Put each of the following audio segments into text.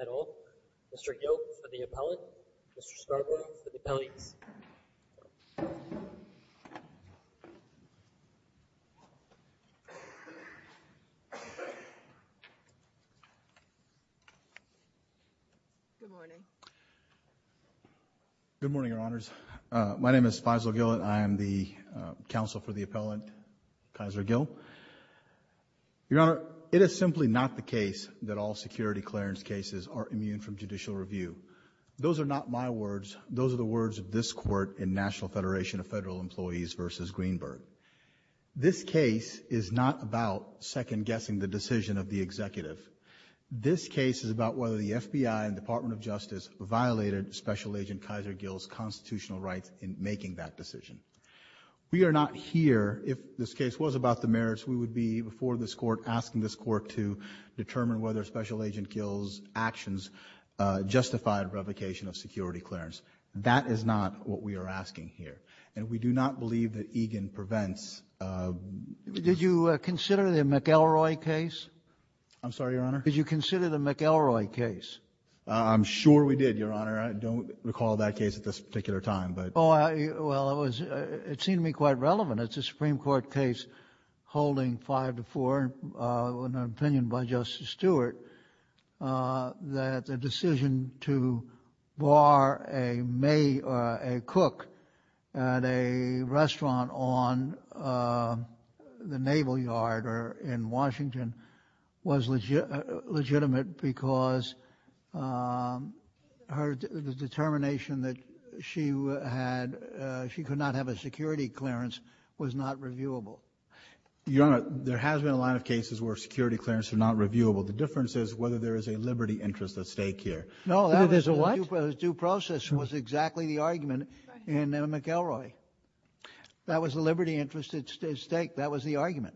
at all. Mr. Yoke for the appellate. Mr. Scarborough for the appellate. Good morning, your honors. My name is Faisal Gill and I am the counsel for the appellate. Kaiser Gill. Your honor, it is simply not the case that all security clearance cases are immune from judicial review. Those are not my words. Those are the words of this court in National Federation of Federal Employees versus Greenberg. This case is not about second guessing the decision of the executive. This case is about whether the FBI and Department of Justice violated special agent Kaiser Gill's constitutional rights in making that decision. We are not here if this case was about the merits. We would be before this court asking this court to determine whether special agent Gill's actions justified revocation of security clearance. That is not what we are asking here. And we do not believe that Egan prevents. Did you consider the McElroy case? I'm sorry, your honor. Did you consider the McElroy case? I'm sure we did, your honor. I don't recall that case at this particular time. Well, it seemed to me quite relevant. It's a Supreme Court case holding five to four in an opinion by Justice Stewart that the decision to bar a cook at a restaurant on the Naval Yard or in Washington was legitimate because the determination that she had, she could not have a security clearance was not reviewable. Your honor, there has been a lot of cases where security clearance are not reviewable. The difference is whether there is a liberty interest at stake here. No, that was due process was exactly the argument in McElroy. That was a liberty interest at stake. That was the argument.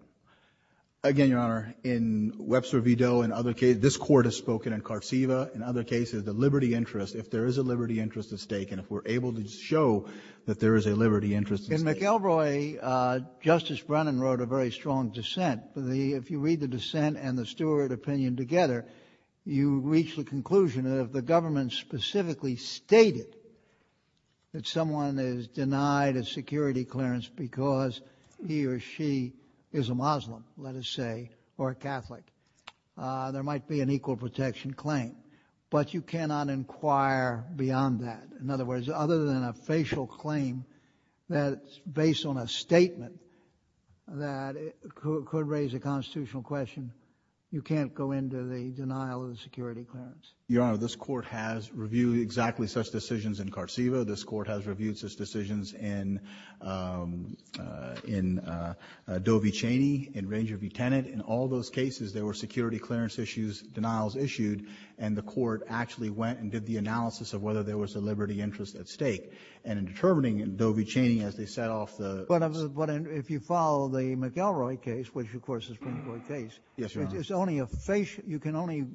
Again, your honor, in Webster v. Doe and other cases, this court has spoken in Carceva, in other cases the liberty interest, if there is a liberty interest at stake and if we're able to show that there is a liberty interest at stake. In McElroy, Justice Brennan wrote a very strong dissent. If you read the dissent and the Stewart opinion together, you reach the conclusion that if the government specifically stated that someone is denied a security clearance because he or she is a Muslim, let us say, or a Catholic, there might be an equal protection claim, but you cannot inquire beyond that. In other words, other than a facial claim that's based on a statement that could raise a constitutional question, you can't go into the denial of the security clearance. Your honor, this court has reviewed exactly such decisions in Carceva. This court has reviewed such decisions in Doe v. Cheney, in Ranger v. Tennant. In all those cases, there were security clearance issues, denials issued, and the court actually went and did the analysis of whether there was a liberty interest at stake. And in determining Doe v. Cheney as they set off the — But if you follow the McElroy case, which of course is a Supreme Court case — Yes, your honor. It's only a facial — you can only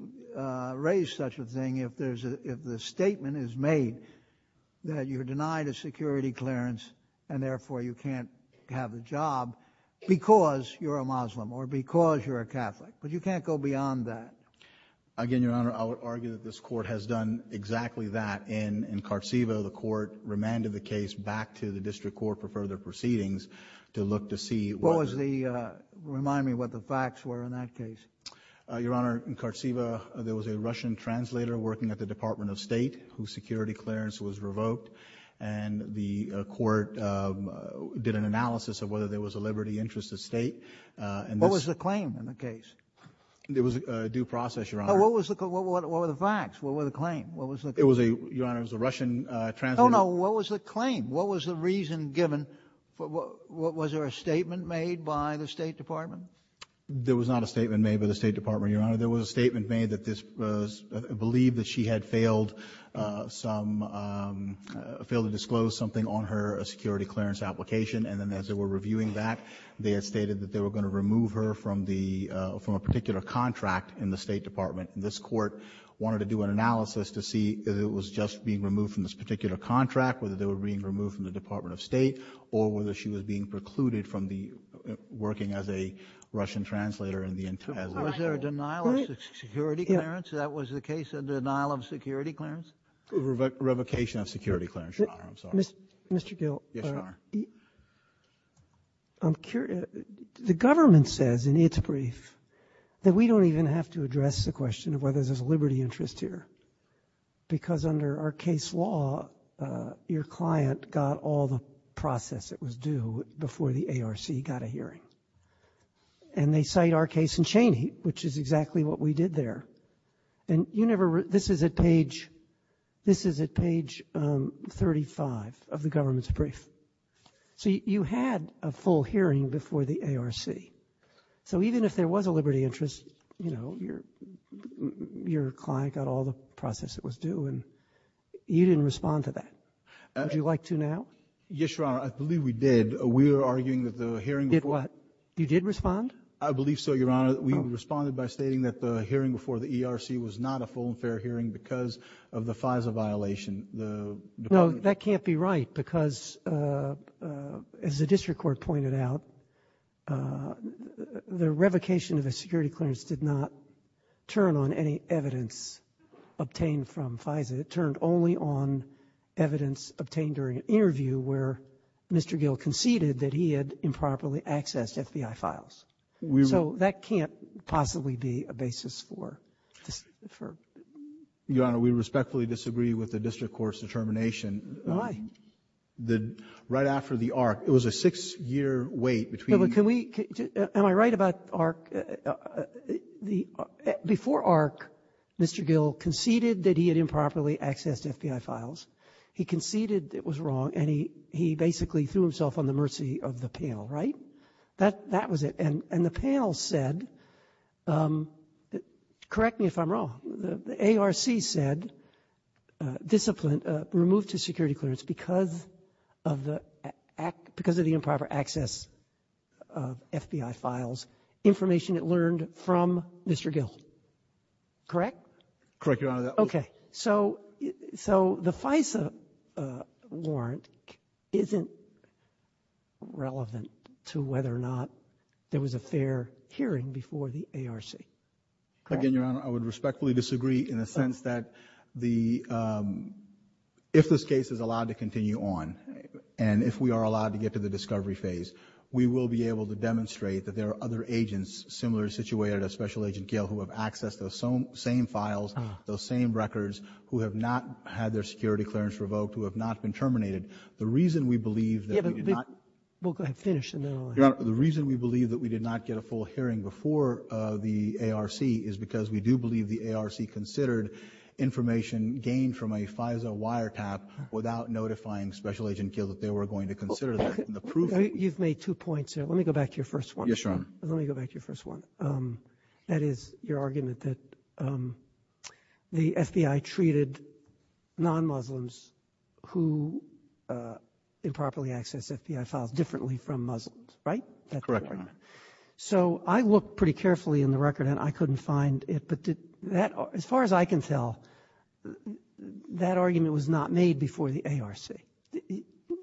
raise such a thing if there's a — if the statement is made that you're denied a security clearance and therefore you can't have a job because you're a Muslim or because you're a Catholic. But you can't go beyond that. Again, your honor, I would argue that this court has done exactly that. In Carceva, the court remanded the case back to the district court for further proceedings to look to see whether — What was the — remind me what the facts were in that case. Your honor, in Carceva, there was a Russian translator working at the Department of State whose security clearance was revoked, and the court did an analysis of whether there was a liberty interest at stake. What was the claim in the case? There was a due process, your honor. What were the facts? What were the claims? It was a — your honor, it was a Russian translator — No, no. What was the claim? What was the reason given? Was there a statement made by the State Department? There was not a statement made by the State Department, your honor. There was a statement made that this — believed that she had failed some — failed to disclose something on her security clearance application. And then as they were reviewing that, they had stated that they were going to remove her from the — from a particular contract in the State Department. And this court wanted to do an analysis to see if it was just being removed from this particular contract, whether they were being removed from the Department of State, or whether she was being precluded from the — working as a Russian translator in the — as a — Was there a denial of security clearance? That was the case, a denial of security clearance? A revocation of security clearance, your honor. I'm sorry. Mr. Gill. Yes, your honor. I'm curious. The government says in its brief that we don't even have to address the question of whether there's a liberty interest here. Because under our case law, your client got all the process that was due before the ARC got a hearing. And they cite our case in Cheney, which is exactly what we did there. And you never — this is at page — this is at page 35 of the government's brief. So you had a full hearing before the ARC. So even if there was a liberty interest, you know, your client got all the process that was due. And you didn't respond to that. Would you like to now? Yes, your honor. I believe we did. We were arguing that the hearing — Did what? You did respond? I believe so, your honor. We responded by stating that the hearing before the ERC was not a full and fair hearing because of the FISA violation. No, that can't be right because, as the district court pointed out, the revocation of a security clearance did not turn on any evidence obtained from FISA. It turned only on evidence obtained during an interview where Mr. Gill conceded that he had improperly accessed FBI files. So that can't possibly be a basis for — Your honor, we respectfully disagree with the district court's determination. Why? Right after the ARC, it was a six-year wait between — Can we — am I right about ARC? Before ARC, Mr. Gill conceded that he had improperly accessed FBI files. He conceded it was wrong, and he basically threw himself on the mercy of the panel, right? That was it. And the panel said — correct me if I'm wrong. The ARC said discipline removed his security clearance because of the improper access of FBI files, information it learned from Mr. Gill. Correct? Correct, Your Honor. Okay. So the FISA warrant isn't relevant to whether or not there was a fair hearing before the ARC. Correct? Again, Your Honor, I would respectfully disagree in the sense that the — if this case is allowed to continue on, and if we are allowed to get to the discovery phase, we will be able to demonstrate that there are other agents similarly situated as Special Agent Gill who have accessed those same files, those same records, who have not had their security clearance revoked, who have not been terminated. The reason we believe that we did not — Well, go ahead. Finish, and then I'll — Your Honor, the reason we believe that we did not get a full hearing before the ARC is because we do believe the ARC considered information gained from a FISA wiretap without notifying Special Agent Gill that they were going to consider that. You've made two points here. Let me go back to your first one. Yes, Your Honor. Let me go back to your first one. That is your argument that the FBI treated non-Muslims who improperly accessed FBI files differently from Muslims, right? Correct, Your Honor. So I looked pretty carefully in the record, and I couldn't find it. But as far as I can tell, that argument was not made before the ARC.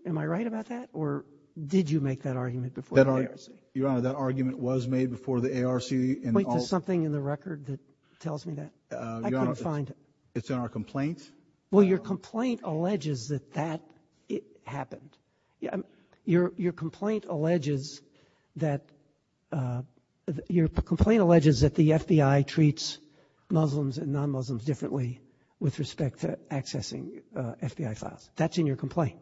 Am I right about that, or did you make that argument before the ARC? Your Honor, that argument was made before the ARC. Point to something in the record that tells me that. I couldn't find it. It's in our complaint. Well, your complaint alleges that that happened. Your complaint alleges that the FBI treats Muslims and non-Muslims differently with respect to accessing FBI files. That's in your complaint.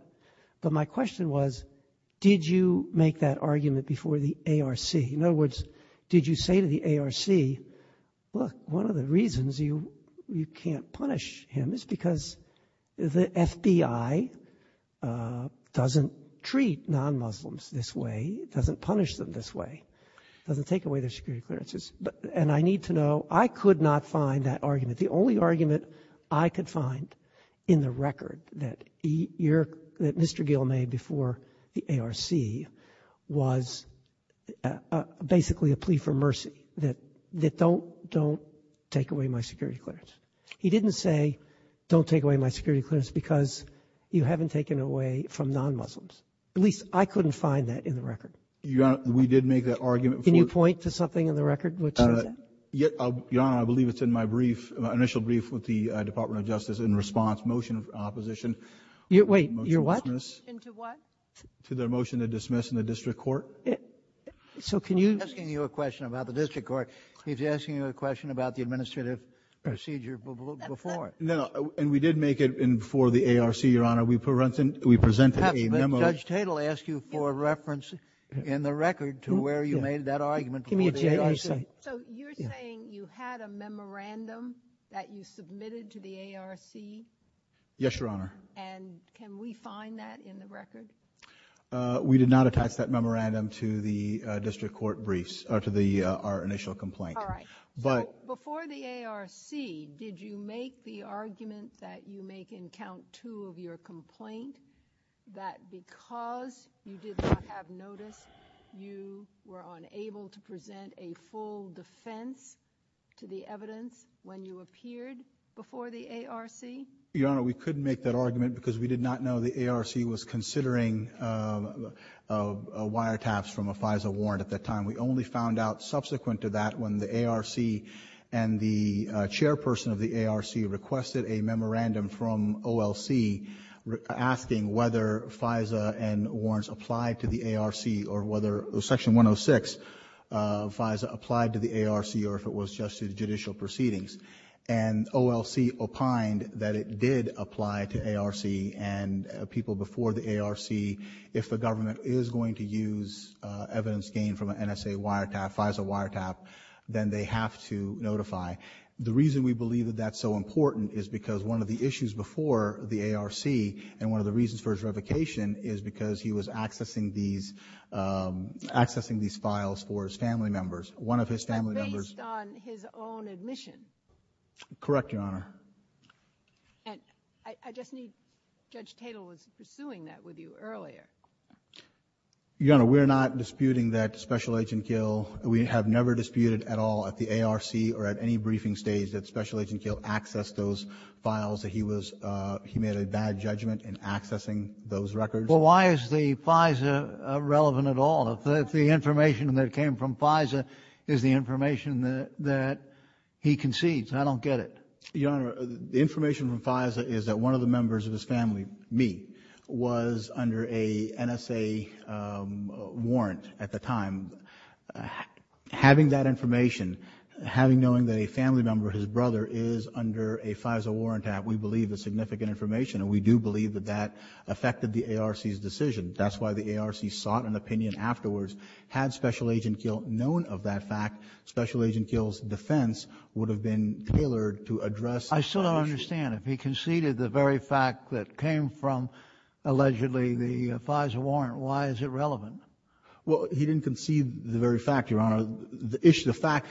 But my question was, did you make that argument before the ARC? In other words, did you say to the ARC, look, one of the reasons you can't punish him is because the FBI doesn't treat non-Muslims this way, doesn't punish them this way, doesn't take away their security clearances. And I need to know, I could not find that argument. The only argument I could find in the record that Mr. Gill made before the ARC was basically a plea for mercy, that don't take away my security clearance. He didn't say don't take away my security clearance because you haven't taken away from non-Muslims. At least I couldn't find that in the record. Your Honor, we did make that argument before. Can you point to something in the record which is that? Your Honor, I believe it's in my brief, initial brief with the Department of Justice in response, motion of opposition. Wait, your what? Into what? To their motion to dismiss in the district court. So can you? I'm not asking you a question about the district court. He's asking you a question about the administrative procedure before. No, and we did make it before the ARC, Your Honor. We presented a memo. Perhaps Judge Tatel asked you for a reference in the record to where you made that argument before the ARC. So you're saying you had a memorandum that you submitted to the ARC? Yes, Your Honor. And can we find that in the record? We did not attach that memorandum to the district court briefs or to our initial complaint. All right. So before the ARC, did you make the argument that you make in count two of your complaint that because you did not have notice, you were unable to present a full defense to the evidence when you appeared before the ARC? Your Honor, we couldn't make that argument because we did not know the ARC was considering wiretaps from a FISA warrant at that time. We only found out subsequent to that when the ARC and the chairperson of the ARC requested a memorandum from OLC asking whether FISA and warrants applied to the ARC or whether Section 106 FISA applied to the ARC or if it was just judicial proceedings. And OLC opined that it did apply to ARC and people before the ARC. If the government is going to use evidence gained from an NSA wiretap, FISA wiretap, then they have to notify. The reason we believe that that's so important is because one of the issues before the ARC and one of the reasons for his revocation is because he was accessing these files for his family members. One of his family members. Based on his own admission? Correct, Your Honor. And I just need, Judge Tatel was pursuing that with you earlier. Your Honor, we're not disputing that Special Agent Kiel, we have never disputed at all at the ARC or at any briefing stage that Special Agent Kiel accessed those files. He was, he made a bad judgment in accessing those records. Well, why is the FISA relevant at all? If the information that came from FISA is the information that he concedes, I don't get it. Your Honor, the information from FISA is that one of the members of his family, me, was under a NSA warrant at the time. Having that information, having, knowing that a family member, his brother, is under a FISA warrant, we believe is significant information. And we do believe that that affected the ARC's decision. That's why the ARC sought an opinion afterwards. Had Special Agent Kiel known of that fact, Special Agent Kiel's defense would have been tailored to address that issue. I still don't understand. If he conceded the very fact that came from, allegedly, the FISA warrant, why is it relevant? Well, he didn't concede the very fact, Your Honor. The fact,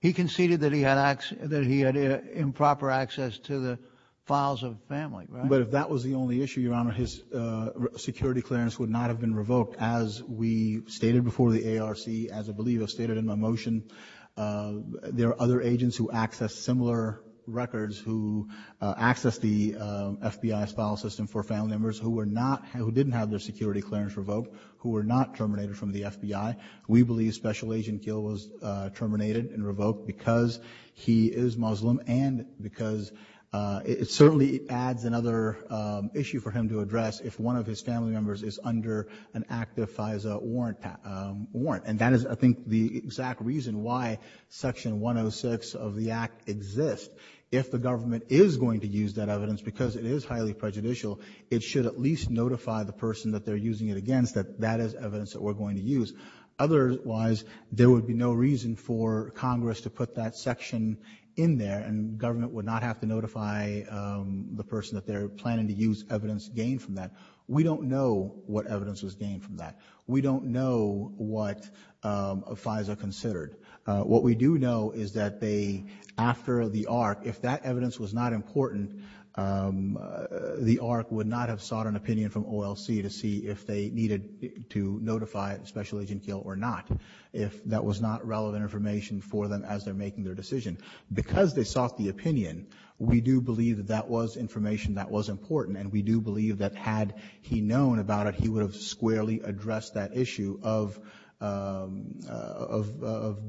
he conceded that he had improper access to the files of the family. But if that was the only issue, Your Honor, his security clearance would not have been revoked. As we stated before the ARC, as I believe I stated in my motion, there are other agents who access similar records, who access the FBI's file system for family members who were not, who didn't have their security clearance revoked, who were not terminated from the FBI. We believe Special Agent Kiel was terminated and revoked because he is Muslim and because it certainly adds another issue for him to address if one of his family members is under an active FISA warrant. And that is, I think, the exact reason why Section 106 of the Act exists. If the government is going to use that evidence, because it is highly prejudicial, it should at least notify the person that they're using it against that that is evidence that we're going to use. Otherwise, there would be no reason for Congress to put that section in there and government would not have to notify the person that they're planning to use evidence gained from that. We don't know what evidence was gained from that. We don't know what FISA considered. What we do know is that they, after the ARC, if that evidence was not important, the ARC would not have sought an opinion from OLC to see if they needed to notify Special Agent Kiel or not if that was not relevant information for them as they're making their decision. Because they sought the opinion, we do believe that that was information that was important, and we do believe that had he known about it, he would have squarely addressed that issue of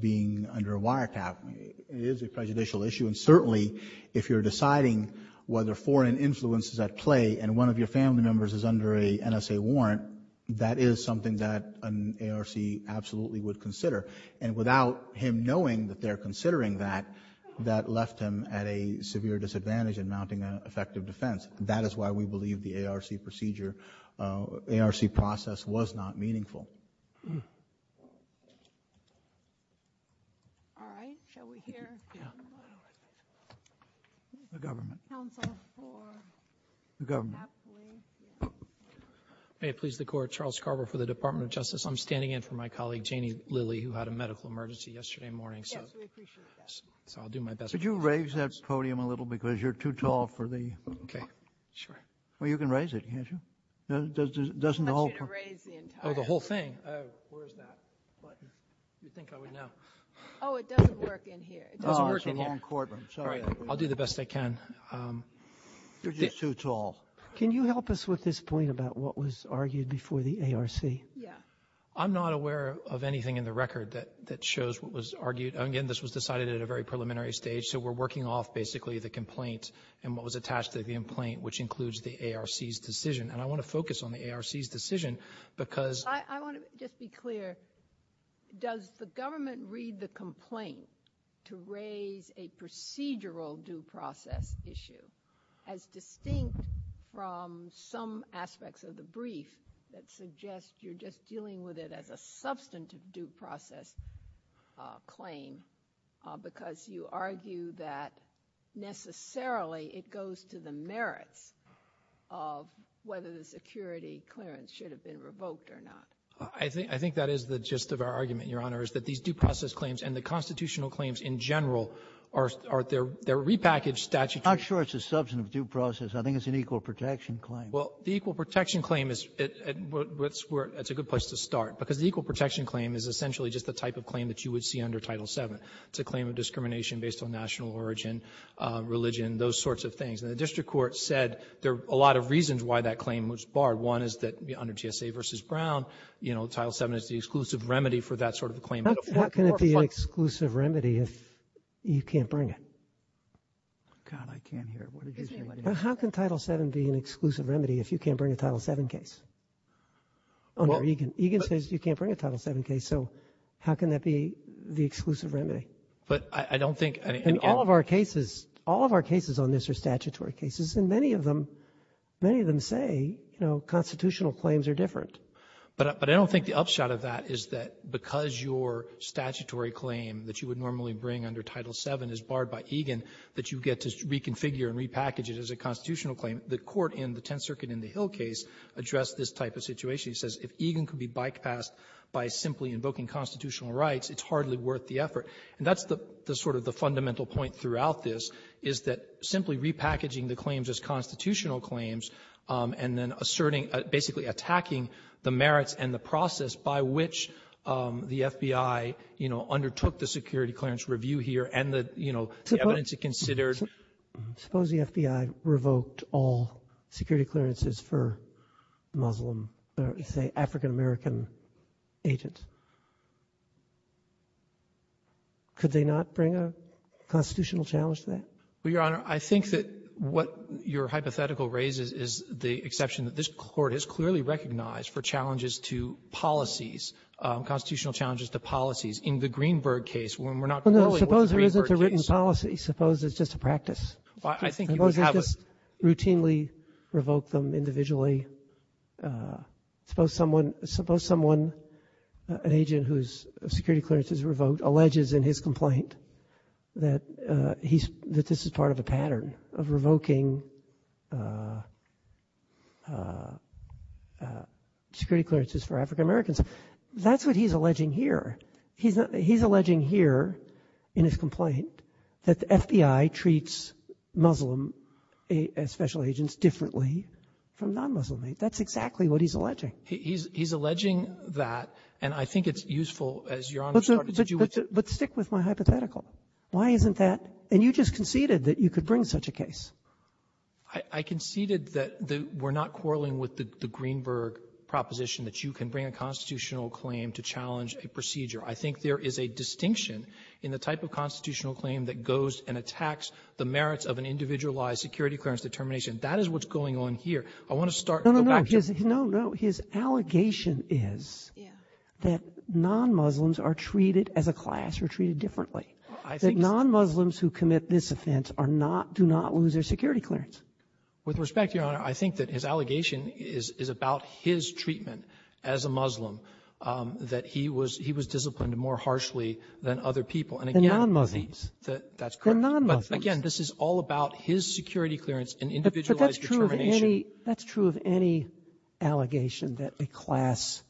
being under a wiretap. It is a prejudicial issue, and certainly if you're deciding whether foreign influence is at play and one of your family members is under a NSA warrant, that is something that an ARC absolutely would consider. And without him knowing that they're considering that, that left him at a severe disadvantage in mounting an effective defense. That is why we believe the ARC procedure, ARC process was not meaningful. Thank you. All right, shall we hear? The government. May it please the Court, Charles Scarborough for the Department of Justice. I'm standing in for my colleague, Janie Lilly, who had a medical emergency yesterday morning. Yes, we appreciate that. So I'll do my best. Could you raise that podium a little, because you're too tall for the? Okay, sure. Well, you can raise it, can't you? Doesn't the whole? I want you to raise the entire thing. Oh, the whole thing. Oh, where is that button? You'd think I would know. Oh, it doesn't work in here. It doesn't work in here. Oh, it's a long courtroom. Sorry. I'll do the best I can. You're just too tall. Can you help us with this point about what was argued before the ARC? Yeah. I'm not aware of anything in the record that shows what was argued. Again, this was decided at a very preliminary stage, so we're working off basically the complaint and what was attached to the complaint, which includes the ARC's decision. And I want to focus on the ARC's decision because. I want to just be clear. Does the government read the complaint to raise a procedural due process issue as distinct from some aspects of the brief that suggest you're just dealing with it as a substantive due process claim because you argue that necessarily it goes to the merits of whether the security clearance should have been revoked or not? I think that is the gist of our argument, Your Honor, is that these due process claims and the constitutional claims in general are their repackaged statutory. I'm not sure it's a substantive due process. I think it's an equal protection claim. Well, the equal protection claim is where it's a good place to start because the equal It's a claim of discrimination based on national origin, religion, those sorts of things. And the district court said there are a lot of reasons why that claim was barred. One is that under GSA v. Brown, you know, Title VII is the exclusive remedy for that sort of a claim. How can it be an exclusive remedy if you can't bring it? God, I can't hear. How can Title VII be an exclusive remedy if you can't bring a Title VII case? Egan says you can't bring a Title VII case, so how can that be the exclusive remedy? But I don't think And all of our cases, all of our cases on this are statutory cases, and many of them, many of them say, you know, constitutional claims are different. But I don't think the upshot of that is that because your statutory claim that you would normally bring under Title VII is barred by Egan, that you get to reconfigure and repackage it as a constitutional claim. The court in the Tenth Circuit in the Hill case addressed this type of situation. She says if Egan could be bypassed by simply invoking constitutional rights, it's hardly worth the effort. And that's the sort of the fundamental point throughout this, is that simply repackaging the claims as constitutional claims and then asserting basically attacking the merits and the process by which the FBI, you know, undertook the security clearance review here and the, you know, the evidence it considered Suppose the FBI revoked all security clearances for Muslim or, say, African-American agents. Could they not bring a constitutional challenge to that? Well, Your Honor, I think that what your hypothetical raises is the exception that this Court has clearly recognized for challenges to policies, constitutional challenges to policies. In the Greenberg case, when we're not knowing what the Greenberg case is. Suppose it's a written policy. Suppose it's just a practice. I think you would have a Suppose they just routinely revoke them individually. Suppose someone an agent whose security clearance is revoked alleges in his complaint that he's that this is part of a pattern of revoking security clearances for African-Americans. That's what he's alleging here. He's alleging here in his complaint that the FBI treats Muslim special agents differently from non-Muslim agents. That's exactly what he's alleging. He's alleging that, and I think it's useful, as Your Honor started to do. But stick with my hypothetical. Why isn't that? And you just conceded that you could bring such a case. I conceded that we're not quarreling with the Greenberg proposition that you can bring a constitutional claim to challenge a procedure. I think there is a distinction in the type of constitutional claim that goes and attacks the merits of an individualized security clearance determination. That is what's going on here. I want to start going back to the ---- No, no, no. His allegation is that non-Muslims are treated as a class or treated differently. I think ---- That non-Muslims who commit this offense are not, do not lose their security clearance. With respect, Your Honor, I think that his allegation is about his treatment as a Muslim, that he was ---- he was disciplined more harshly than other people. And again ---- The non-Muslims. That's correct. The non-Muslims. But again, this is all about his security clearance and individualized determination. But that's true of any ---- that's true of any allegation that a class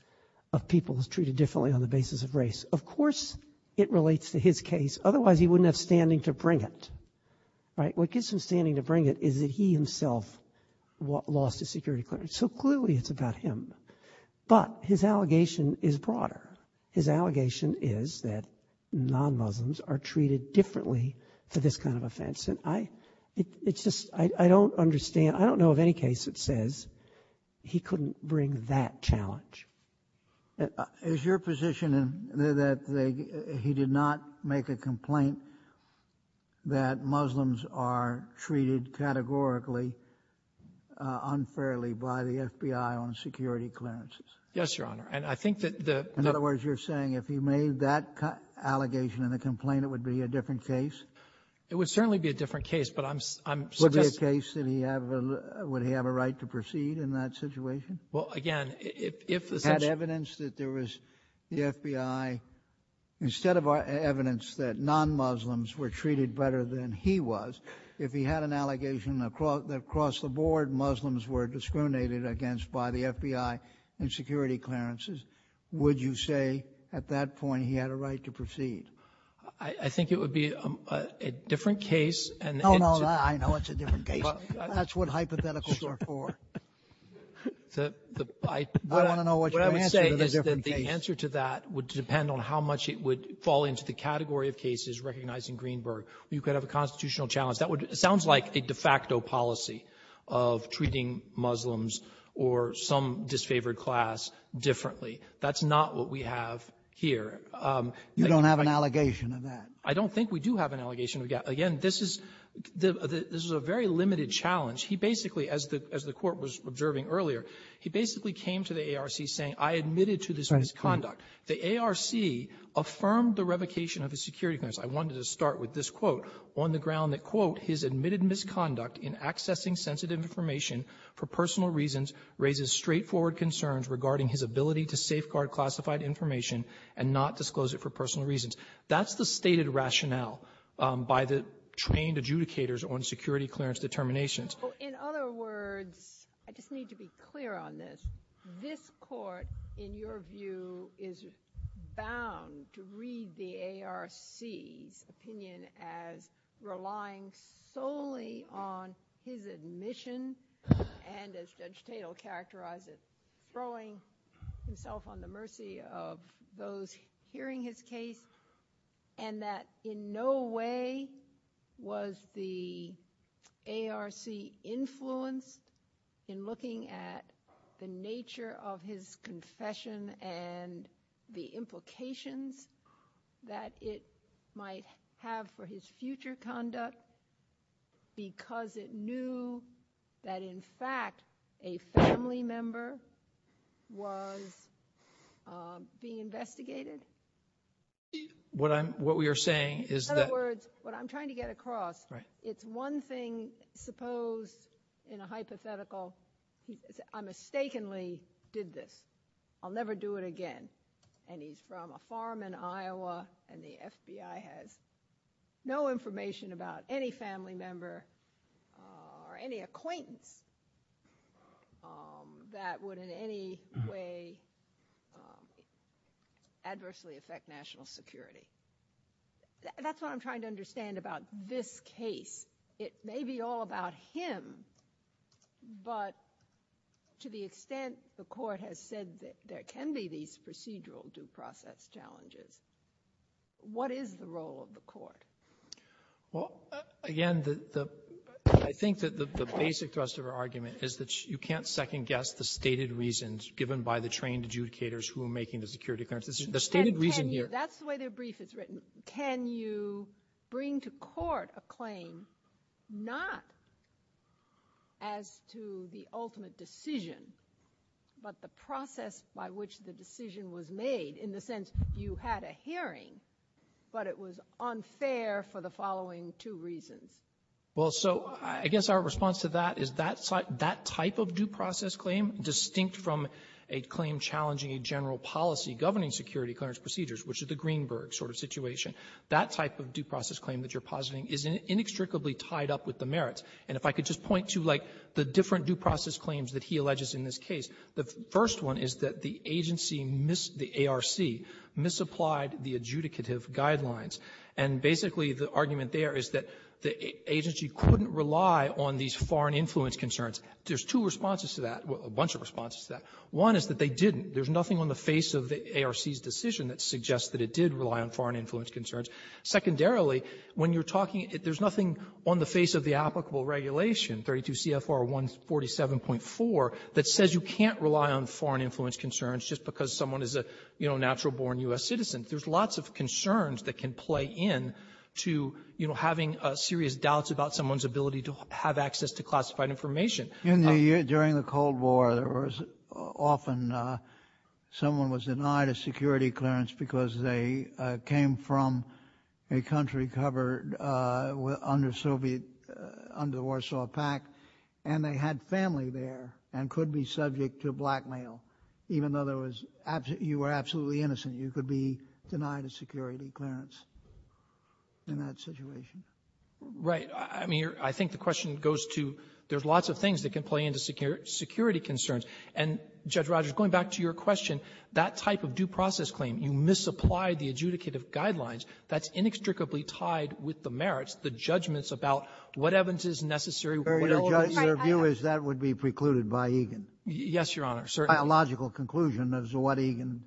of people is treated differently on the basis of race. Of course it relates to his case. Otherwise, he wouldn't have standing to bring it. Right? What gives him standing to bring it is that he himself lost his security clearance. So clearly it's about him. But his allegation is broader. His allegation is that non-Muslims are treated differently for this kind of offense. And I ---- it's just ---- I don't understand. I don't know of any case that says he couldn't bring that challenge. Is your position that he did not make a complaint that Muslims are treated categorically unfairly by the FBI on security clearances? Yes, Your Honor. And I think that the ---- In other words, you're saying if he made that allegation in the complaint, it would be a different case? It would certainly be a different case, but I'm ---- Would it be a case that he have a ---- would he have a right to proceed in that situation? Well, again, if ---- Had evidence that there was the FBI ---- instead of evidence that non-Muslims were treated better than he was, if he had an allegation across the board Muslims were discriminated against by the FBI in security clearances, would you say at that point he had a right to proceed? I think it would be a different case and ---- No, no, I know it's a different case. That's what hypotheticals are for. The ---- I want to know what your answer to the different case. What I would say is that the answer to that would depend on how much it would fall into the category of cases recognizing Greenberg, where you could have a constitutional challenge. That would ---- it sounds like a de facto policy of treating Muslims or some disfavored class differently. That's not what we have here. You don't have an allegation of that. I don't think we do have an allegation of that. Again, this is the ---- this is a very limited challenge. He basically, as the ---- as the Court was observing earlier, he basically came to the ARC saying, I admitted to this misconduct. The ARC affirmed the revocation of his security clearance. I wanted to start with this quote on the ground that, quote, his admitted misconduct in accessing sensitive information for personal reasons raises straightforward concerns regarding his ability to safeguard classified information and not disclose it for personal reasons. That's the stated rationale by the trained adjudicators on security clearance determinations. In other words, I just need to be clear on this. This Court, in your view, is bound to read the ARC's opinion as relying solely on his admission and, as Judge Tatel characterized it, throwing himself on the mercy of those hearing his case and that in no way was the ARC influenced in looking at the nature of his confession and the implications that it might have for his being investigated? What I'm ---- what we are saying is that ---- In other words, what I'm trying to get across, it's one thing suppose in a hypothetical I mistakenly did this. I'll never do it again. And he's from a farm in Iowa and the FBI has no information about any family member or any acquaintance that would in any way adversely affect national security. That's what I'm trying to understand about this case. It may be all about him, but to the extent the Court has said that there can be these procedural due process challenges, what is the role of the Court? Well, again, the ---- I think that the basic thrust of our argument is that you can't second-guess the stated reasons given by the trained adjudicators who are making the security clearance. The stated reason here ---- That's the way the brief is written. Can you bring to court a claim not as to the ultimate decision, but the process by which the decision was made in the sense you had a hearing, but it was unfair for the following two reasons? Well, so I guess our response to that is that type of due process claim, distinct from a claim challenging a general policy governing security clearance procedures, which is the Greenberg sort of situation, that type of due process claim that you're positing is inextricably tied up with the merits. And if I could just point to, like, the different due process claims that he alleges in this case, the first one is that the agency missed the ARC, misapplied the adjudicative guidelines. And basically, the argument there is that the agency couldn't rely on these foreign influence concerns. There's two responses to that, a bunch of responses to that. One is that they didn't. There's nothing on the face of the ARC's decision that suggests that it did rely on foreign influence concerns. Secondarily, when you're talking ---- there's nothing on the face of the applicable regulation, 32 CFR 147.4, that says you can't rely on foreign influence concerns just because someone is a, you know, natural-born U.S. citizen. There's lots of concerns that can play in to, you know, having serious doubts about someone's ability to have access to classified information. Kennedy, during the Cold War, there was often someone was denied a security clearance because they came from a country covered under Soviet ---- under the Warsaw Pact, and they had family there and could be subject to blackmail, even though there was ---- you were absolutely innocent. You could be denied a security clearance in that situation. Right. I mean, I think the question goes to there's lots of things that can play in to security concerns. And, Judge Rogers, going back to your question, that type of due process claim, you misapply the adjudicative guidelines. That's inextricably tied with the merits, the judgments about what evidence is necessary ---- Sotomayor, your view is that would be precluded by Egan. Yes, Your Honor. Biological conclusion is what Egan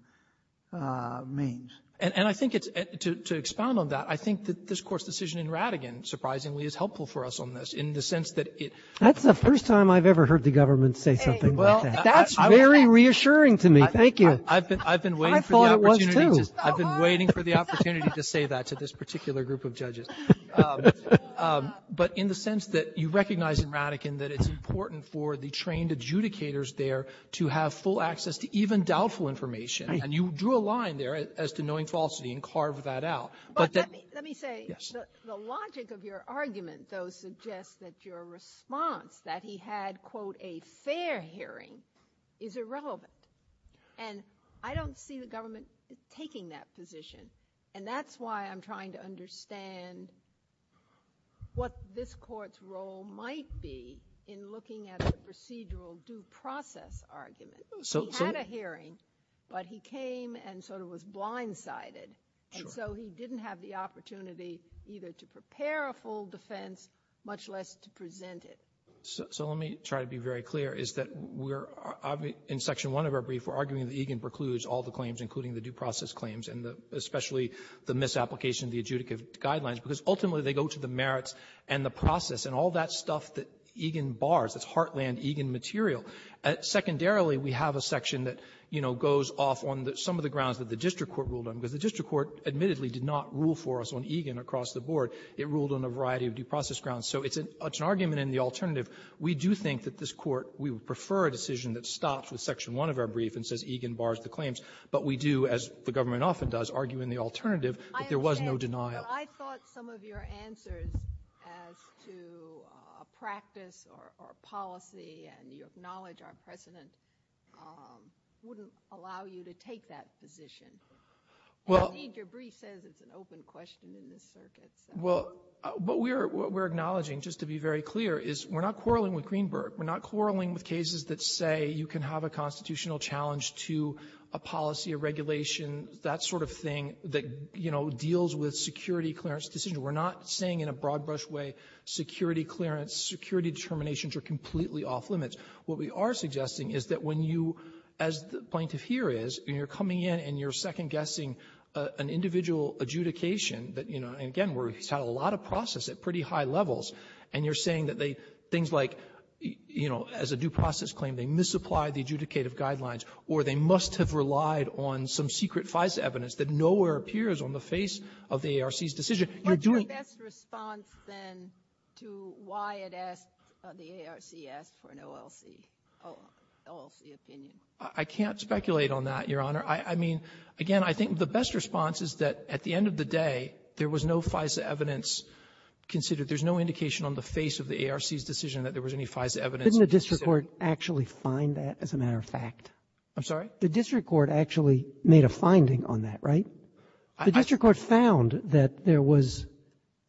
means. And I think it's to expound on that. I think that this Court's decision in Rattigan, surprisingly, is helpful for us on this in the sense that it ---- Well, that's the first time I've ever heard the government say something like that. That's very reassuring to me. Thank you. I've been waiting for the opportunity to say that to this particular group of judges. But in the sense that you recognize in Rattigan that it's important for the trained adjudicators there to have full access to even doubtful information. And you drew a line there as to knowing falsity and carved that out. But that ---- Well, the response that he had, quote, a fair hearing, is irrelevant. And I don't see the government taking that position. And that's why I'm trying to understand what this Court's role might be in looking at a procedural due process argument. He had a hearing, but he came and sort of was blindsided. And so he didn't have the opportunity either to prepare a full defense, much less to present it. So let me try to be very clear, is that we're ---- in Section 1 of our brief, we're arguing that Egan precludes all the claims, including the due process claims, and especially the misapplication of the adjudicative guidelines, because ultimately they go to the merits and the process and all that stuff that Egan bars, that's heartland Egan material. Secondarily, we have a section that, you know, goes off on the ---- some of the grounds that the district court ruled on, because the district court admittedly did not rule for us on Egan across the board. It ruled on a variety of due process grounds. So it's an argument in the alternative. We do think that this Court, we would prefer a decision that stops with Section 1 of our brief and says Egan bars the claims. But we do, as the government often does, argue in the alternative that there was no denial. Ginsburg. I thought some of your answers as to a practice or a policy, and you acknowledge our precedent, wouldn't allow you to take that position. Well ---- Ginsburg. Indeed, your brief says it's an open question in this circuit. Well, what we're acknowledging, just to be very clear, is we're not quarreling with Greenberg. We're not quarreling with cases that say you can have a constitutional challenge to a policy, a regulation, that sort of thing that, you know, deals with security clearance decisions. We're not saying in a broad-brush way security clearance, security determinations are completely off limits. What we are suggesting is that when you, as the plaintiff here is, and you're coming in, and you're second-guessing an individual adjudication that, you know, and again, we've had a lot of process at pretty high levels, and you're saying that they, things like, you know, as a due process claim, they misapply the adjudicative guidelines, or they must have relied on some secret FISA evidence that nowhere appears on the face of the ARC's decision. You're doing ---- What's your best response, then, to why it asks, the ARC asks for an OLC, OLC opinion? I can't speculate on that, Your Honor. I mean, again, I think the best response is that at the end of the day, there was no FISA evidence considered. There's no indication on the face of the ARC's decision that there was any FISA evidence that said ---- Robertson, didn't the district court actually find that, as a matter of fact? I'm sorry? The district court actually made a finding on that, right? The district court found that there was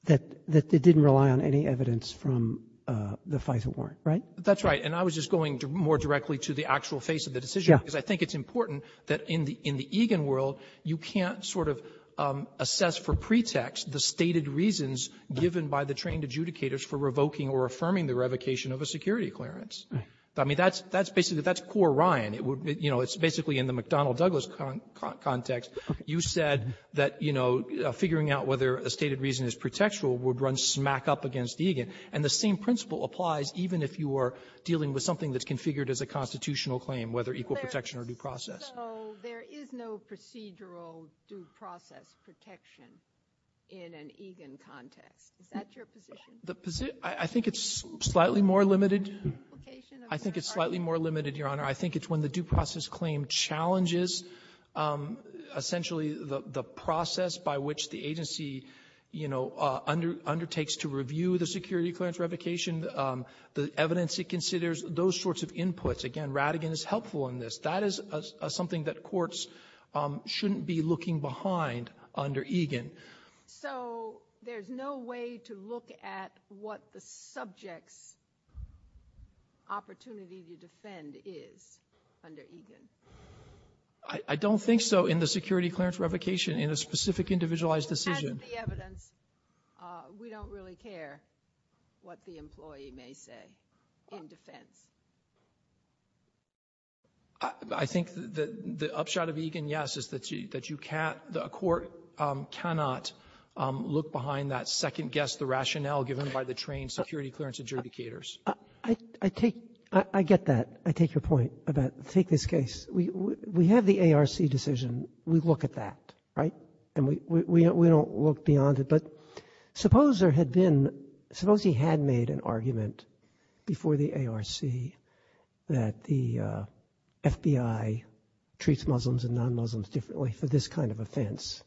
that they didn't rely on any evidence from the FISA warrant, right? That's right. And I was just going more directly to the actual face of the decision. Yeah. Because I think it's important that in the Egan world, you can't sort of assess for pretext the stated reasons given by the trained adjudicators for revoking or affirming the revocation of a security clearance. I mean, that's basically, that's core Ryan. You know, it's basically in the McDonnell-Douglas context. You said that, you know, figuring out whether a stated reason is pretextual would run smack up against Egan. And the same principle applies even if you are dealing with something that's configured as a constitutional claim, whether equal protection or due process. So there is no procedural due process protection in an Egan context. Is that your position? The position ‑‑I think it's slightly more limited. I think it's slightly more limited, Your Honor. I think it's when the due process claim challenges essentially the process by which the agency, you know, undertakes to review the security clearance revocation, the evidence it considers, those sorts of inputs. Again, Rattigan is helpful in this. That is something that courts shouldn't be looking behind under Egan. So there's no way to look at what the subject's opportunity to defend is under Egan? I don't think so in the security clearance revocation, in a specific individualized decision. As is the evidence, we don't really care what the employee may say in defense. I think the upshot of Egan, yes, is that you can't ‑‑ a court cannot look behind that second guess, the rationale given by the trained security clearance adjudicators. I take ‑‑ I get that. I take your point about take this case. We have the ARC decision. We look at that, right? And we don't look beyond it. But suppose there had been ‑‑ suppose he had made an argument before the ARC that the FBI treats Muslims and non-Muslims differently for this kind of offense,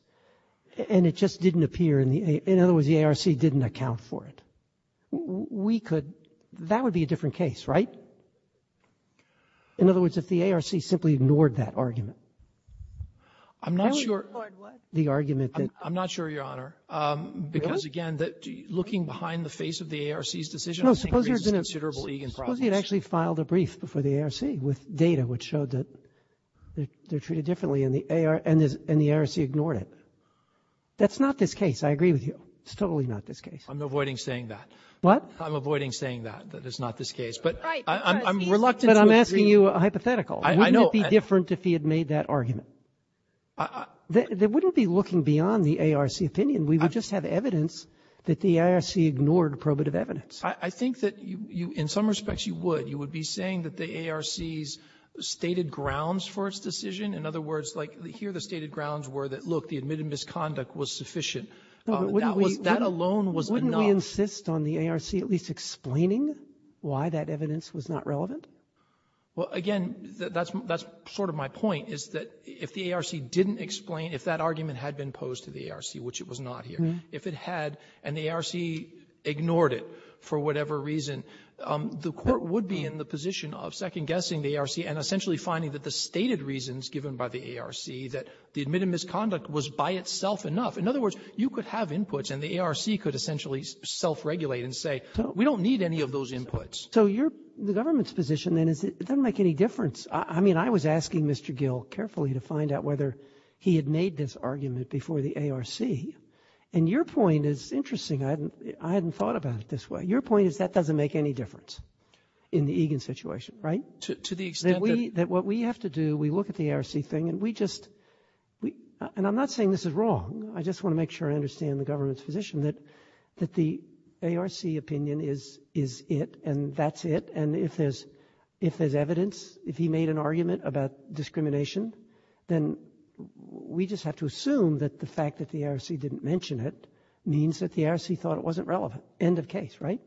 and it just didn't appear in the ‑‑ in other words, the ARC didn't account for it. We could ‑‑ that would be a different case, right? In other words, if the ARC simply ignored that argument. I'm not sure ‑‑ The argument that ‑‑ I'm not sure, Your Honor. Really? Because, again, looking behind the face of the ARC's decision, I think there is a considerable Egan problem. Suppose he had actually filed a brief before the ARC with data which showed that they're treated differently, and the ARC ignored it. That's not this case. I agree with you. It's totally not this case. I'm avoiding saying that. What? I'm avoiding saying that. That is not this case. Right. But I'm reluctant to agree. But I'm asking you a hypothetical. I know. Wouldn't it be different if he had made that argument? I ‑‑ They wouldn't be looking beyond the ARC opinion. We would just have evidence that the ARC ignored probative evidence. I think that you ‑‑ in some respects, you would. You would be saying that the ARC's stated grounds for its decision, in other words, like here the stated grounds were that, look, the admitted misconduct was sufficient. That was ‑‑ Wouldn't we ‑‑ That alone was enough. Wouldn't we insist on the ARC at least explaining why that evidence was not relevant? Well, again, that's sort of my point, is that if the ARC didn't explain, if that argument had been posed to the ARC, which it was not here, if it had, and the ARC ignored it for whatever reason, the Court would be in the position of second-guessing the ARC and essentially finding that the stated reasons given by the ARC, that the admitted misconduct was by itself enough. In other words, you could have inputs, and the ARC could essentially self-regulate and say, we don't need any of those inputs. So you're ‑‑ the government's position, then, is it doesn't make any difference. I mean, I was asking Mr. Gill carefully to find out whether he had made this argument before the ARC. And your point is interesting. I hadn't thought about it this way. Your point is that doesn't make any difference in the Egan situation, right? To the extent that we ‑‑ That what we have to do, we look at the ARC thing, and we just ‑‑ and I'm not saying this is wrong. I just want to make sure I understand the government's position, that the ARC opinion is ‑‑ is it, and that's it. And if there's ‑‑ if there's evidence, if he made an argument about discrimination, then we just have to assume that the fact that the ARC didn't mention it means that the ARC thought it wasn't relevant. End of case, right?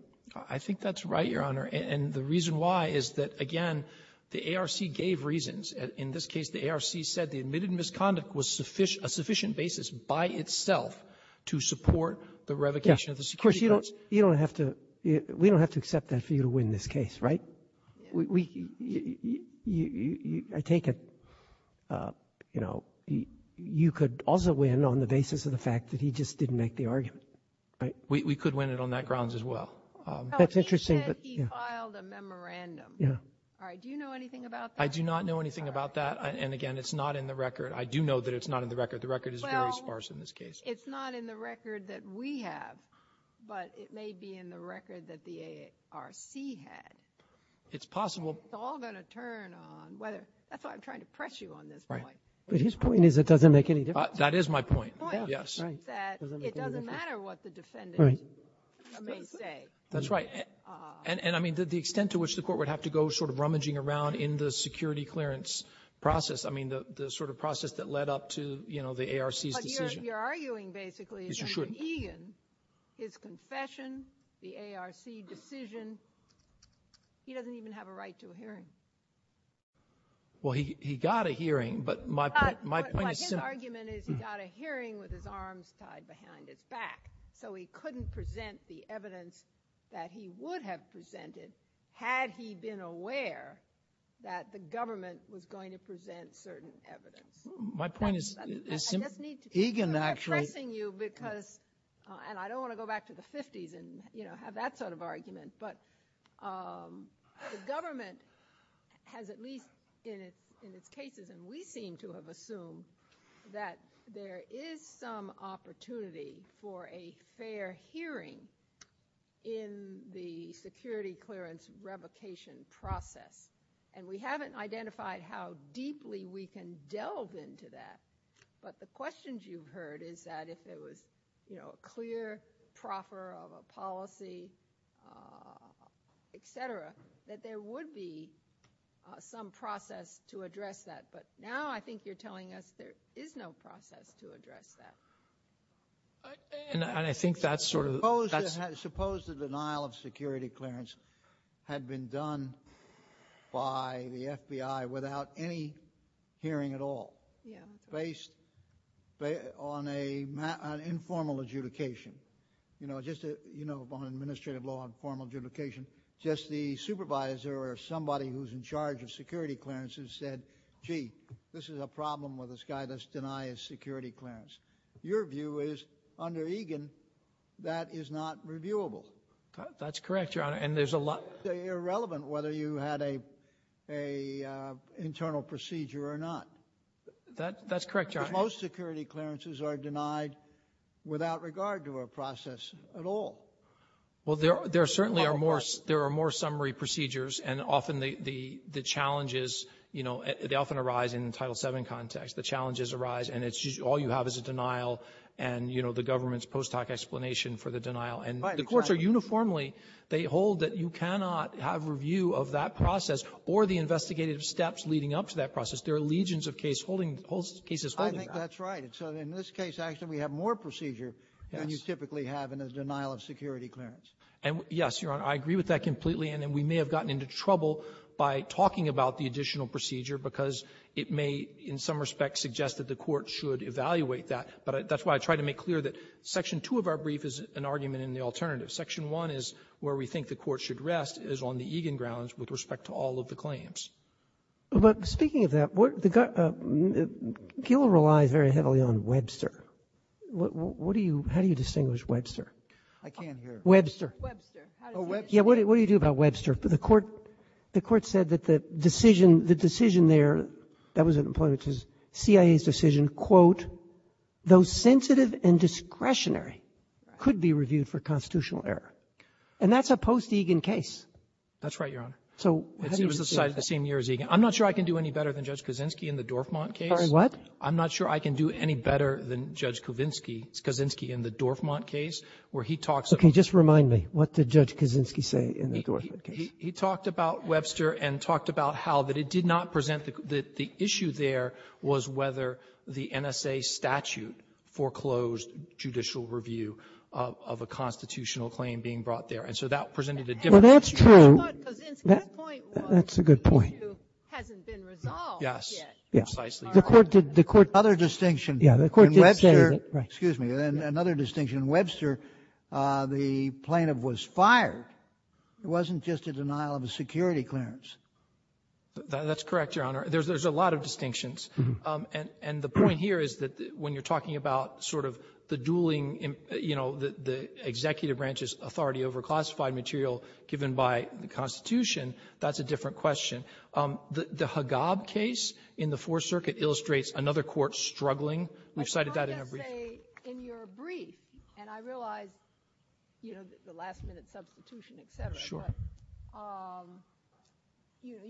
I think that's right, Your Honor. And the reason why is that, again, the ARC gave reasons. In this case, the ARC said the admitted misconduct was a sufficient basis by itself to support the revocation of the security codes. Of course, you don't have to ‑‑ we don't have to accept that for you to win this case, right? We ‑‑ I take it, you know, you could also win on the basis of the fact that he just didn't make the argument, right? We could win it on that grounds as well. That's interesting. He said he filed a memorandum. Yeah. All right. Do you know anything about that? I do not know anything about that. And, again, it's not in the record. I do know that it's not in the record. The record is very sparse in this case. It's not in the record that we have, but it may be in the record that the ARC had. It's possible. It's all going to turn on whether ‑‑ that's why I'm trying to press you on this point. But his point is it doesn't make any difference. That is my point, yes. The point is that it doesn't matter what the defendant may say. That's right. And, I mean, the extent to which the Court would have to go sort of rummaging around in the security clearance process, I mean, the sort of process that led up to, you know, the ARC's decision. But you're arguing basically that Egan, his confession, the ARC decision, he doesn't even have a right to a hearing. Well, he got a hearing, but my point is simple. But his argument is he got a hearing with his arms tied behind his back, so he couldn't present the evidence that he would have presented had he been aware that the government was going to present certain evidence. My point is simple. I just need to ‑‑ Egan actually ‑‑ I'm pressing you because, and I don't want to go back to the 50s and, you know, have that sort of argument, but the government has at least in its cases, and we seem to have assumed that there is some opportunity for a fair hearing in the security clearance revocation process. And we haven't identified how deeply we can delve into that. But the questions you've heard is that if there was, you know, a clear proffer of a policy, et cetera, that there would be some process to address that. But now I think you're telling us there is no process to address that. And I think that's sort of ‑‑ Suppose the denial of security clearance had been done by the FBI without any hearing at all. Based on an informal adjudication. You know, on administrative law, informal adjudication, just the supervisor or somebody who's in charge of security clearance who said, gee, this is a problem with this guy, let's deny his security clearance. Your view is, under Egan, that is not reviewable. That's correct, Your Honor. And there's a lot ‑‑ It's irrelevant whether you had an internal procedure or not. That's correct, Your Honor. Because most security clearances are denied without regard to a process at all. Well, there certainly are more ‑‑ There are more summary procedures, and often the challenges, you know, they often arise in the Title VII context. The challenges arise, and it's just all you have is a denial and, you know, the government's post hoc explanation for the denial. And the courts are uniformly, they hold that you cannot have review of that process or the investigative steps leading up to that process. There are legions of case holding ‑‑ cases holding that. I think that's right. So in this case, actually, we have more procedure than you typically have in a denial of security clearance. And, yes, Your Honor, I agree with that completely. And we may have gotten into trouble by talking about the additional procedure because it may, in some respects, suggest that the court should evaluate that. But that's why I try to make clear that Section 2 of our brief is an argument in the alternative. Section 1 is where we think the court should rest, is on the Egan grounds with respect to all of the claims. But speaking of that, what the ‑‑ Gila relies very heavily on Webster. What do you ‑‑ how do you distinguish Webster? I can't hear. Webster. Webster. Oh, Webster. What do you do about Webster? The court said that the decision ‑‑ the decision there, that was an employment decision, CIA's decision, quote, though sensitive and discretionary, could be reviewed for constitutional error. And that's a post-Egan case. That's right, Your Honor. So how do you ‑‑ It was decided the same year as Egan. I'm not sure I can do any better than Judge Kaczynski in the Dorfman case. Sorry, what? I'm not sure I can do any better than Judge Kaczynski in the Dorfman case where he talks about ‑‑ Okay. Just remind me. What did Judge Kaczynski say in the Dorfman case? He talked about Webster and talked about how that it did not present that the issue there was whether the NSA statute foreclosed judicial review of a constitutional claim being brought there. And so that presented a different issue. Well, that's true. I thought Kaczynski's point was the issue hasn't been resolved yet. Yes. Precisely. The court did ‑‑ Another distinction. Yeah. The court did say that. And another distinction, Webster, the plaintiff was fired. It wasn't just a denial of a security clearance. That's correct, Your Honor. There's a lot of distinctions. And the point here is that when you're talking about sort of the dueling, you know, the executive branch's authority over classified material given by the Constitution, that's a different question. The Haggab case in the Fourth Circuit illustrates another court struggling. But you don't just say in your brief, and I realize, you know, the last-minute substitution, et cetera. Sure.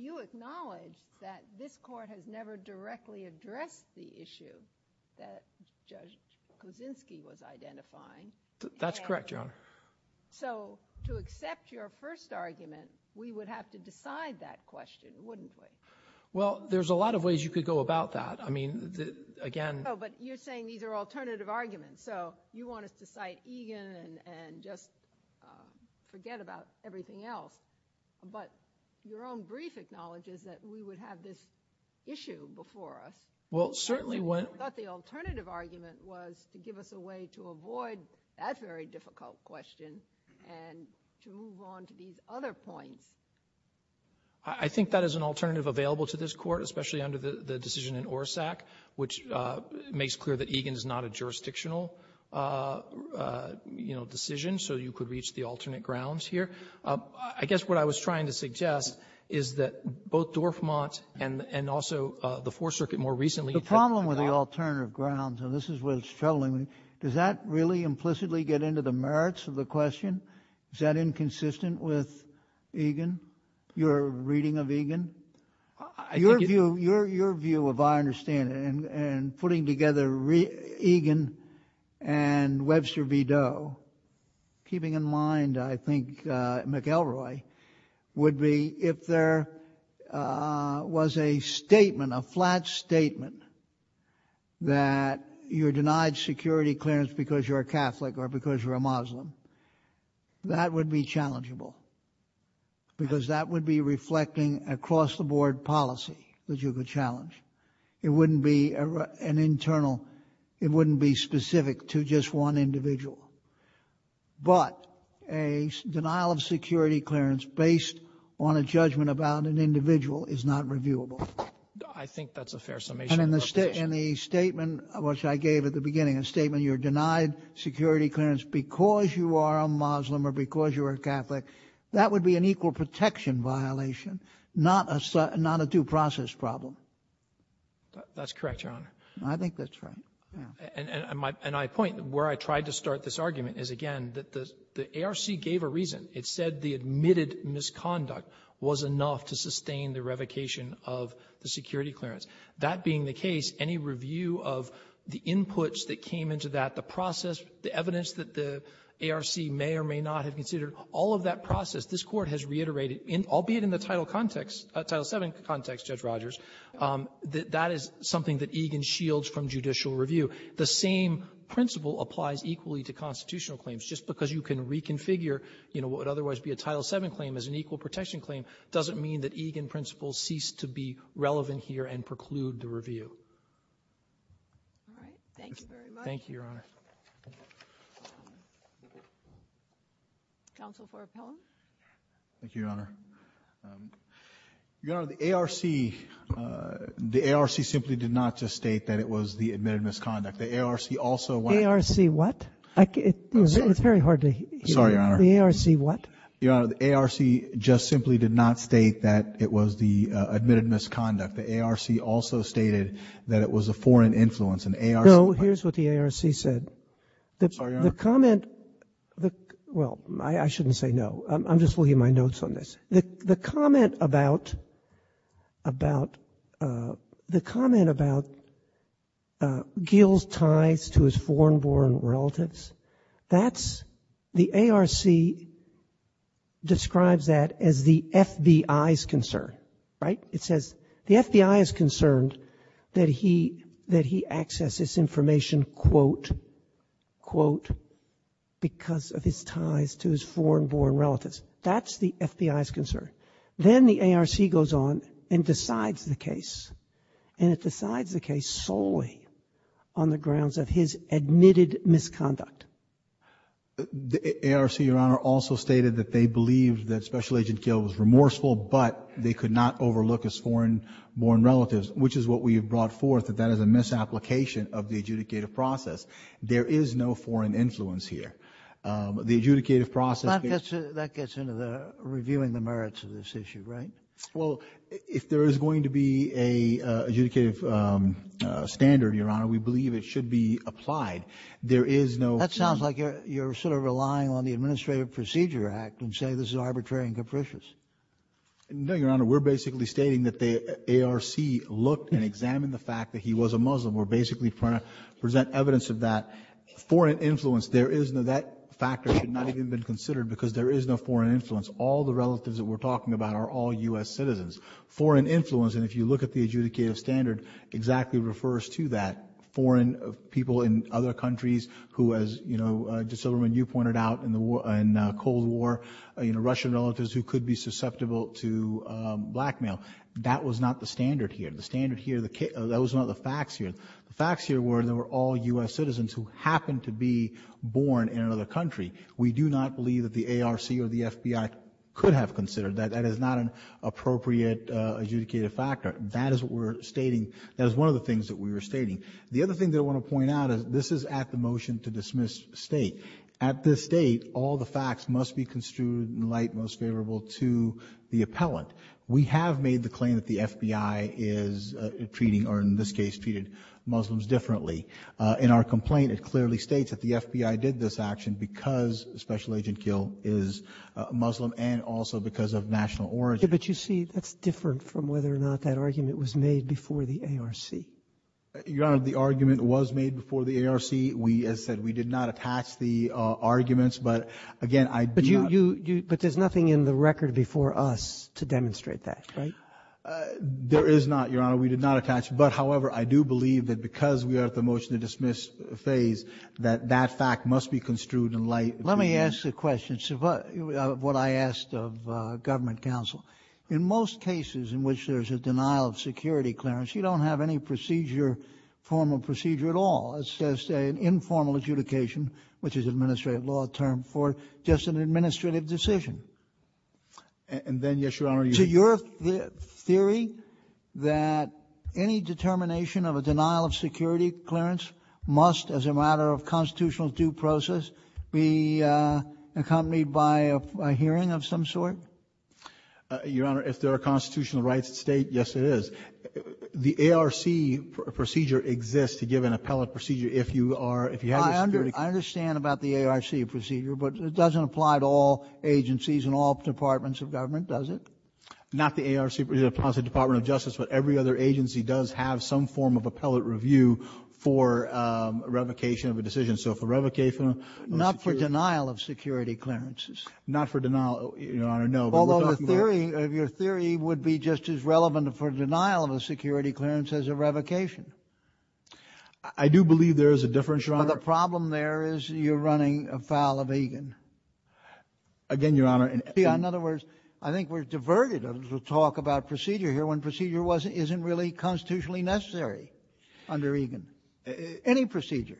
You acknowledge that this Court has never directly addressed the issue that Judge Kaczynski was identifying. That's correct, Your Honor. So to accept your first argument, we would have to decide that question, wouldn't we? Well, there's a lot of ways you could go about that. I mean, again ‑‑ No, but you're saying these are alternative arguments. So you want us to cite Egan and just forget about everything else. But your own brief acknowledges that we would have this issue before us. Well, certainly when ‑‑ I thought the alternative argument was to give us a way to avoid that very difficult question and to move on to these other points. I think that is an alternative available to this Court, especially under the decision in Orsak, which makes clear that Egan is not a jurisdictional, you know, decision, so you could reach the alternate grounds here. I guess what I was trying to suggest is that both Dorfmant and also the Fourth Circuit more recently ‑‑ The problem with the alternative grounds, and this is where it's troubling me, does that really implicitly get into the merits of the question? Is that inconsistent with Egan, your reading of Egan? Your view, if I understand it, and putting together Egan and Webster V. Doe, keeping in mind, I think, McElroy, would be if there was a statement, a flat statement, that you're denied security clearance because you're a Catholic or because you're a Muslim, that would be challengeable, because that would be reflecting a cross‑the‑board policy that you could challenge. It wouldn't be an internal, it wouldn't be specific to just one individual. But a denial of security clearance based on a judgment about an individual is not reviewable. I think that's a fair summation. And in the statement, which I gave at the beginning, a statement you're denied security clearance because you are a Muslim or because you are a Catholic, that would be an equal protection violation, not a due process problem. That's correct, Your Honor. I think that's right. And my point, where I tried to start this argument is, again, that the ARC gave a reason. It said the admitted misconduct was enough to sustain the revocation of the security clearance. That being the case, any review of the inputs that came into that, the process, the evidence that the ARC may or may not have considered, all of that process, this Court has reiterated, albeit in the Title context, Title VII context, Judge Rogers, that that is something that Egan shields from judicial review. The same principle applies equally to constitutional claims. Just because you can reconfigure, you know, what would otherwise be a Title VII claim as an equal protection claim doesn't mean that Egan principles cease to be relevant here and preclude the review. All right. Thank you very much. Thank you, Your Honor. Counsel for appellant. Thank you, Your Honor. Your Honor, the ARC, the ARC simply did not just state that it was the admitted misconduct. The ARC also went to the ARC. ARC what? It's very hard to hear. Sorry, Your Honor. The ARC what? Your Honor, the ARC just simply did not state that it was the admitted misconduct. The ARC also stated that it was a foreign influence. No, here's what the ARC said. Sorry, Your Honor. The comment, well, I shouldn't say no. I'm just looking at my notes on this. The comment about, about, the comment about Gil's ties to his foreign-born relatives, that's, the ARC describes that as the FBI's concern, right? It says the FBI is concerned that he, that he accesses information, quote, quote, because of his ties to his foreign-born relatives. That's the FBI's concern. Then the ARC goes on and decides the case, and it decides the case solely on the grounds of his admitted misconduct. The ARC, Your Honor, also stated that they believed that Special Agent Gil was remorseful, but they could not overlook his foreign-born relatives, which is what we have brought forth, that that is a misapplication of the adjudicative process. There is no foreign influence here. The adjudicative process— That gets into the reviewing the merits of this issue, right? Well, if there is going to be an adjudicative standard, Your Honor, we believe it should be applied. There is no— That sounds like you're sort of relying on the Administrative Procedure Act and saying this is arbitrary and capricious. No, Your Honor. We're basically stating that the ARC looked and examined the fact that he was a Muslim. We're basically trying to present evidence of that. Foreign influence, there is no—that factor should not even have been considered because there is no foreign influence. All the relatives that we're talking about are all U.S. citizens. Foreign influence, and if you look at the adjudicative standard, exactly refers to that. Foreign people in other countries who, as, you know, Justice Silberman, you pointed out in the Cold War, you know, Russian relatives who could be susceptible to blackmail. That was not the standard here. The standard here—that was not the facts here. The facts here were they were all U.S. citizens who happened to be born in another country. We do not believe that the ARC or the FBI could have considered that. That is not an appropriate adjudicative factor. That is what we're stating. That is one of the things that we were stating. The other thing that I want to point out is this is at the motion to dismiss State. At this State, all the facts must be construed in light most favorable to the appellant. We have made the claim that the FBI is treating, or in this case, treated Muslims differently. In our complaint, it clearly states that the FBI did this action because Special Agent Gill is Muslim and also because of national origin. Sotomayor, but you see, that's different from whether or not that argument was made before the ARC. Your Honor, the argument was made before the ARC. We, as said, we did not attach the arguments. But, again, I do not ---- But you, you, you, but there's nothing in the record before us to demonstrate that, right? There is not, Your Honor. We did not attach. But, however, I do believe that because we are at the motion to dismiss phase, that that fact must be construed in light ---- Let me ask a question. What I asked of government counsel, in most cases in which there's a denial of security clearance, you don't have any procedure, formal procedure at all. It's just an informal adjudication, which is an administrative law term, for just an administrative decision. And then, yes, Your Honor, you ---- To your theory that any determination of a denial of security clearance must, as a matter of constitutional due process, be accompanied by a hearing of some sort? Your Honor, if there are constitutional rights at State, yes, there is. The ARC procedure exists to give an appellate procedure if you are ---- I understand about the ARC procedure, but it doesn't apply to all agencies and all departments of government, does it? Not the ARC. It applies to the Department of Justice. But every other agency does have some form of appellate review for revocation of a decision. So for revocation of security ---- Not for denial of security clearances. Not for denial, Your Honor, no. Although the theory of your theory would be just as relevant for denial of a security clearance as a revocation. I do believe there is a difference, Your Honor. But the problem there is you're running afoul of Egan. Again, Your Honor, in ---- In other words, I think we're diverted to talk about procedure here when procedure wasn't ---- isn't really constitutionally necessary under Egan, any procedure.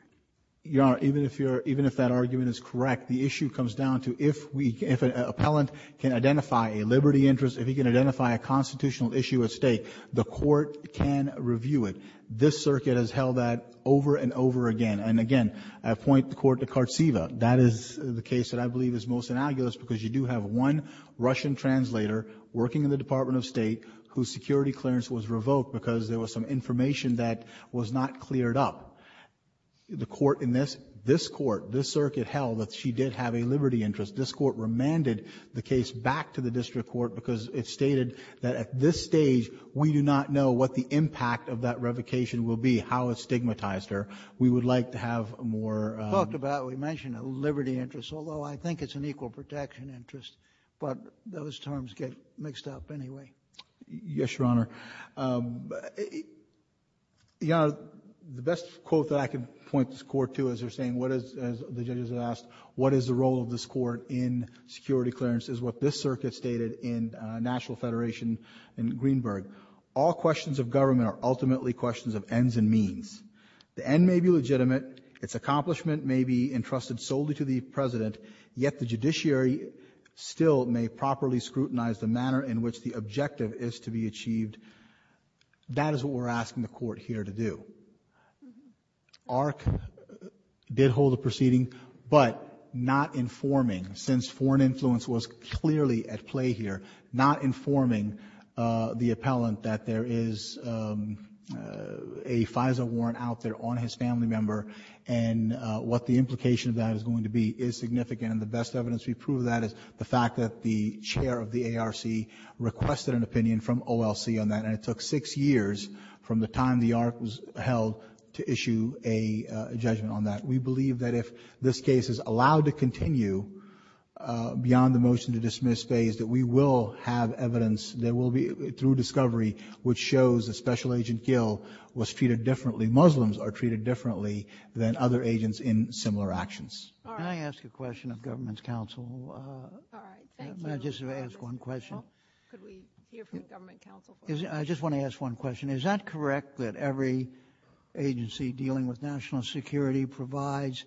Your Honor, even if you're ---- even if that argument is correct, the issue comes down to if we can ---- if an appellant can identify a liberty interest, if he can identify a constitutional issue at stake, the court can review it. This circuit has held that over and over again. And again, I point the Court to Kartseva. That is the case that I believe is most inalguable because you do have one Russian translator working in the Department of State whose security clearance was revoked because there was some information that was not cleared up. The Court in this, this Court, this circuit held that she did have a liberty interest. This Court remanded the case back to the district court because it stated that at this stage we do not know what the impact of that revocation will be, how it stigmatized her. We would like to have more ---- We talked about, we mentioned a liberty interest, although I think it's an equal protection interest, but those terms get mixed up anyway. Yes, Your Honor. Your Honor, the best quote that I can point this Court to as they're saying, what is, as the judges have asked, what is the role of this Court in security clearance, is what this circuit stated in National Federation in Greenberg. All questions of government are ultimately questions of ends and means. The end may be legitimate. Its accomplishment may be entrusted solely to the President. Yet the judiciary still may properly scrutinize the manner in which the objective is to be achieved. That is what we're asking the Court here to do. ARC did hold a proceeding, but not informing, since foreign influence was clearly at play here, not informing the appellant that there is a FISA warrant out there on his family member and what the implication of that is going to be is significant. And the best evidence to prove that is the fact that the chair of the ARC requested an opinion from OLC on that, and it took six years from the time the ARC was held to issue a judgment on that. We believe that if this case is allowed to continue beyond the motion to dismiss phase, that we will have evidence that will be, through discovery, which shows that Special Agent Gill was treated differently, Muslims are treated differently, than other agents in similar actions. All right. Can I ask a question of Government's counsel? All right. Thank you. May I just ask one question? Well, could we hear from Government counsel first? I just want to ask one question. Is that correct that every agency dealing with national security provides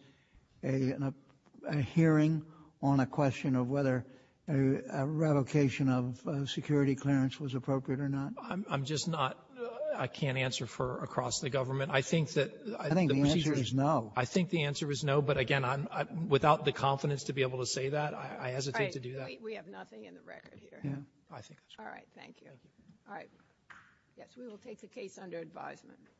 a hearing on a question of whether a revocation of security clearance was appropriate or not? I'm just not — I can't answer for across the government. I think that — I think the answer is no. I think the answer is no, but again, without the confidence to be able to say that, I hesitate to do that. All right. We have nothing in the record here. I think that's right. All right. Thank you. All right. Yes, we will take the case under advisement.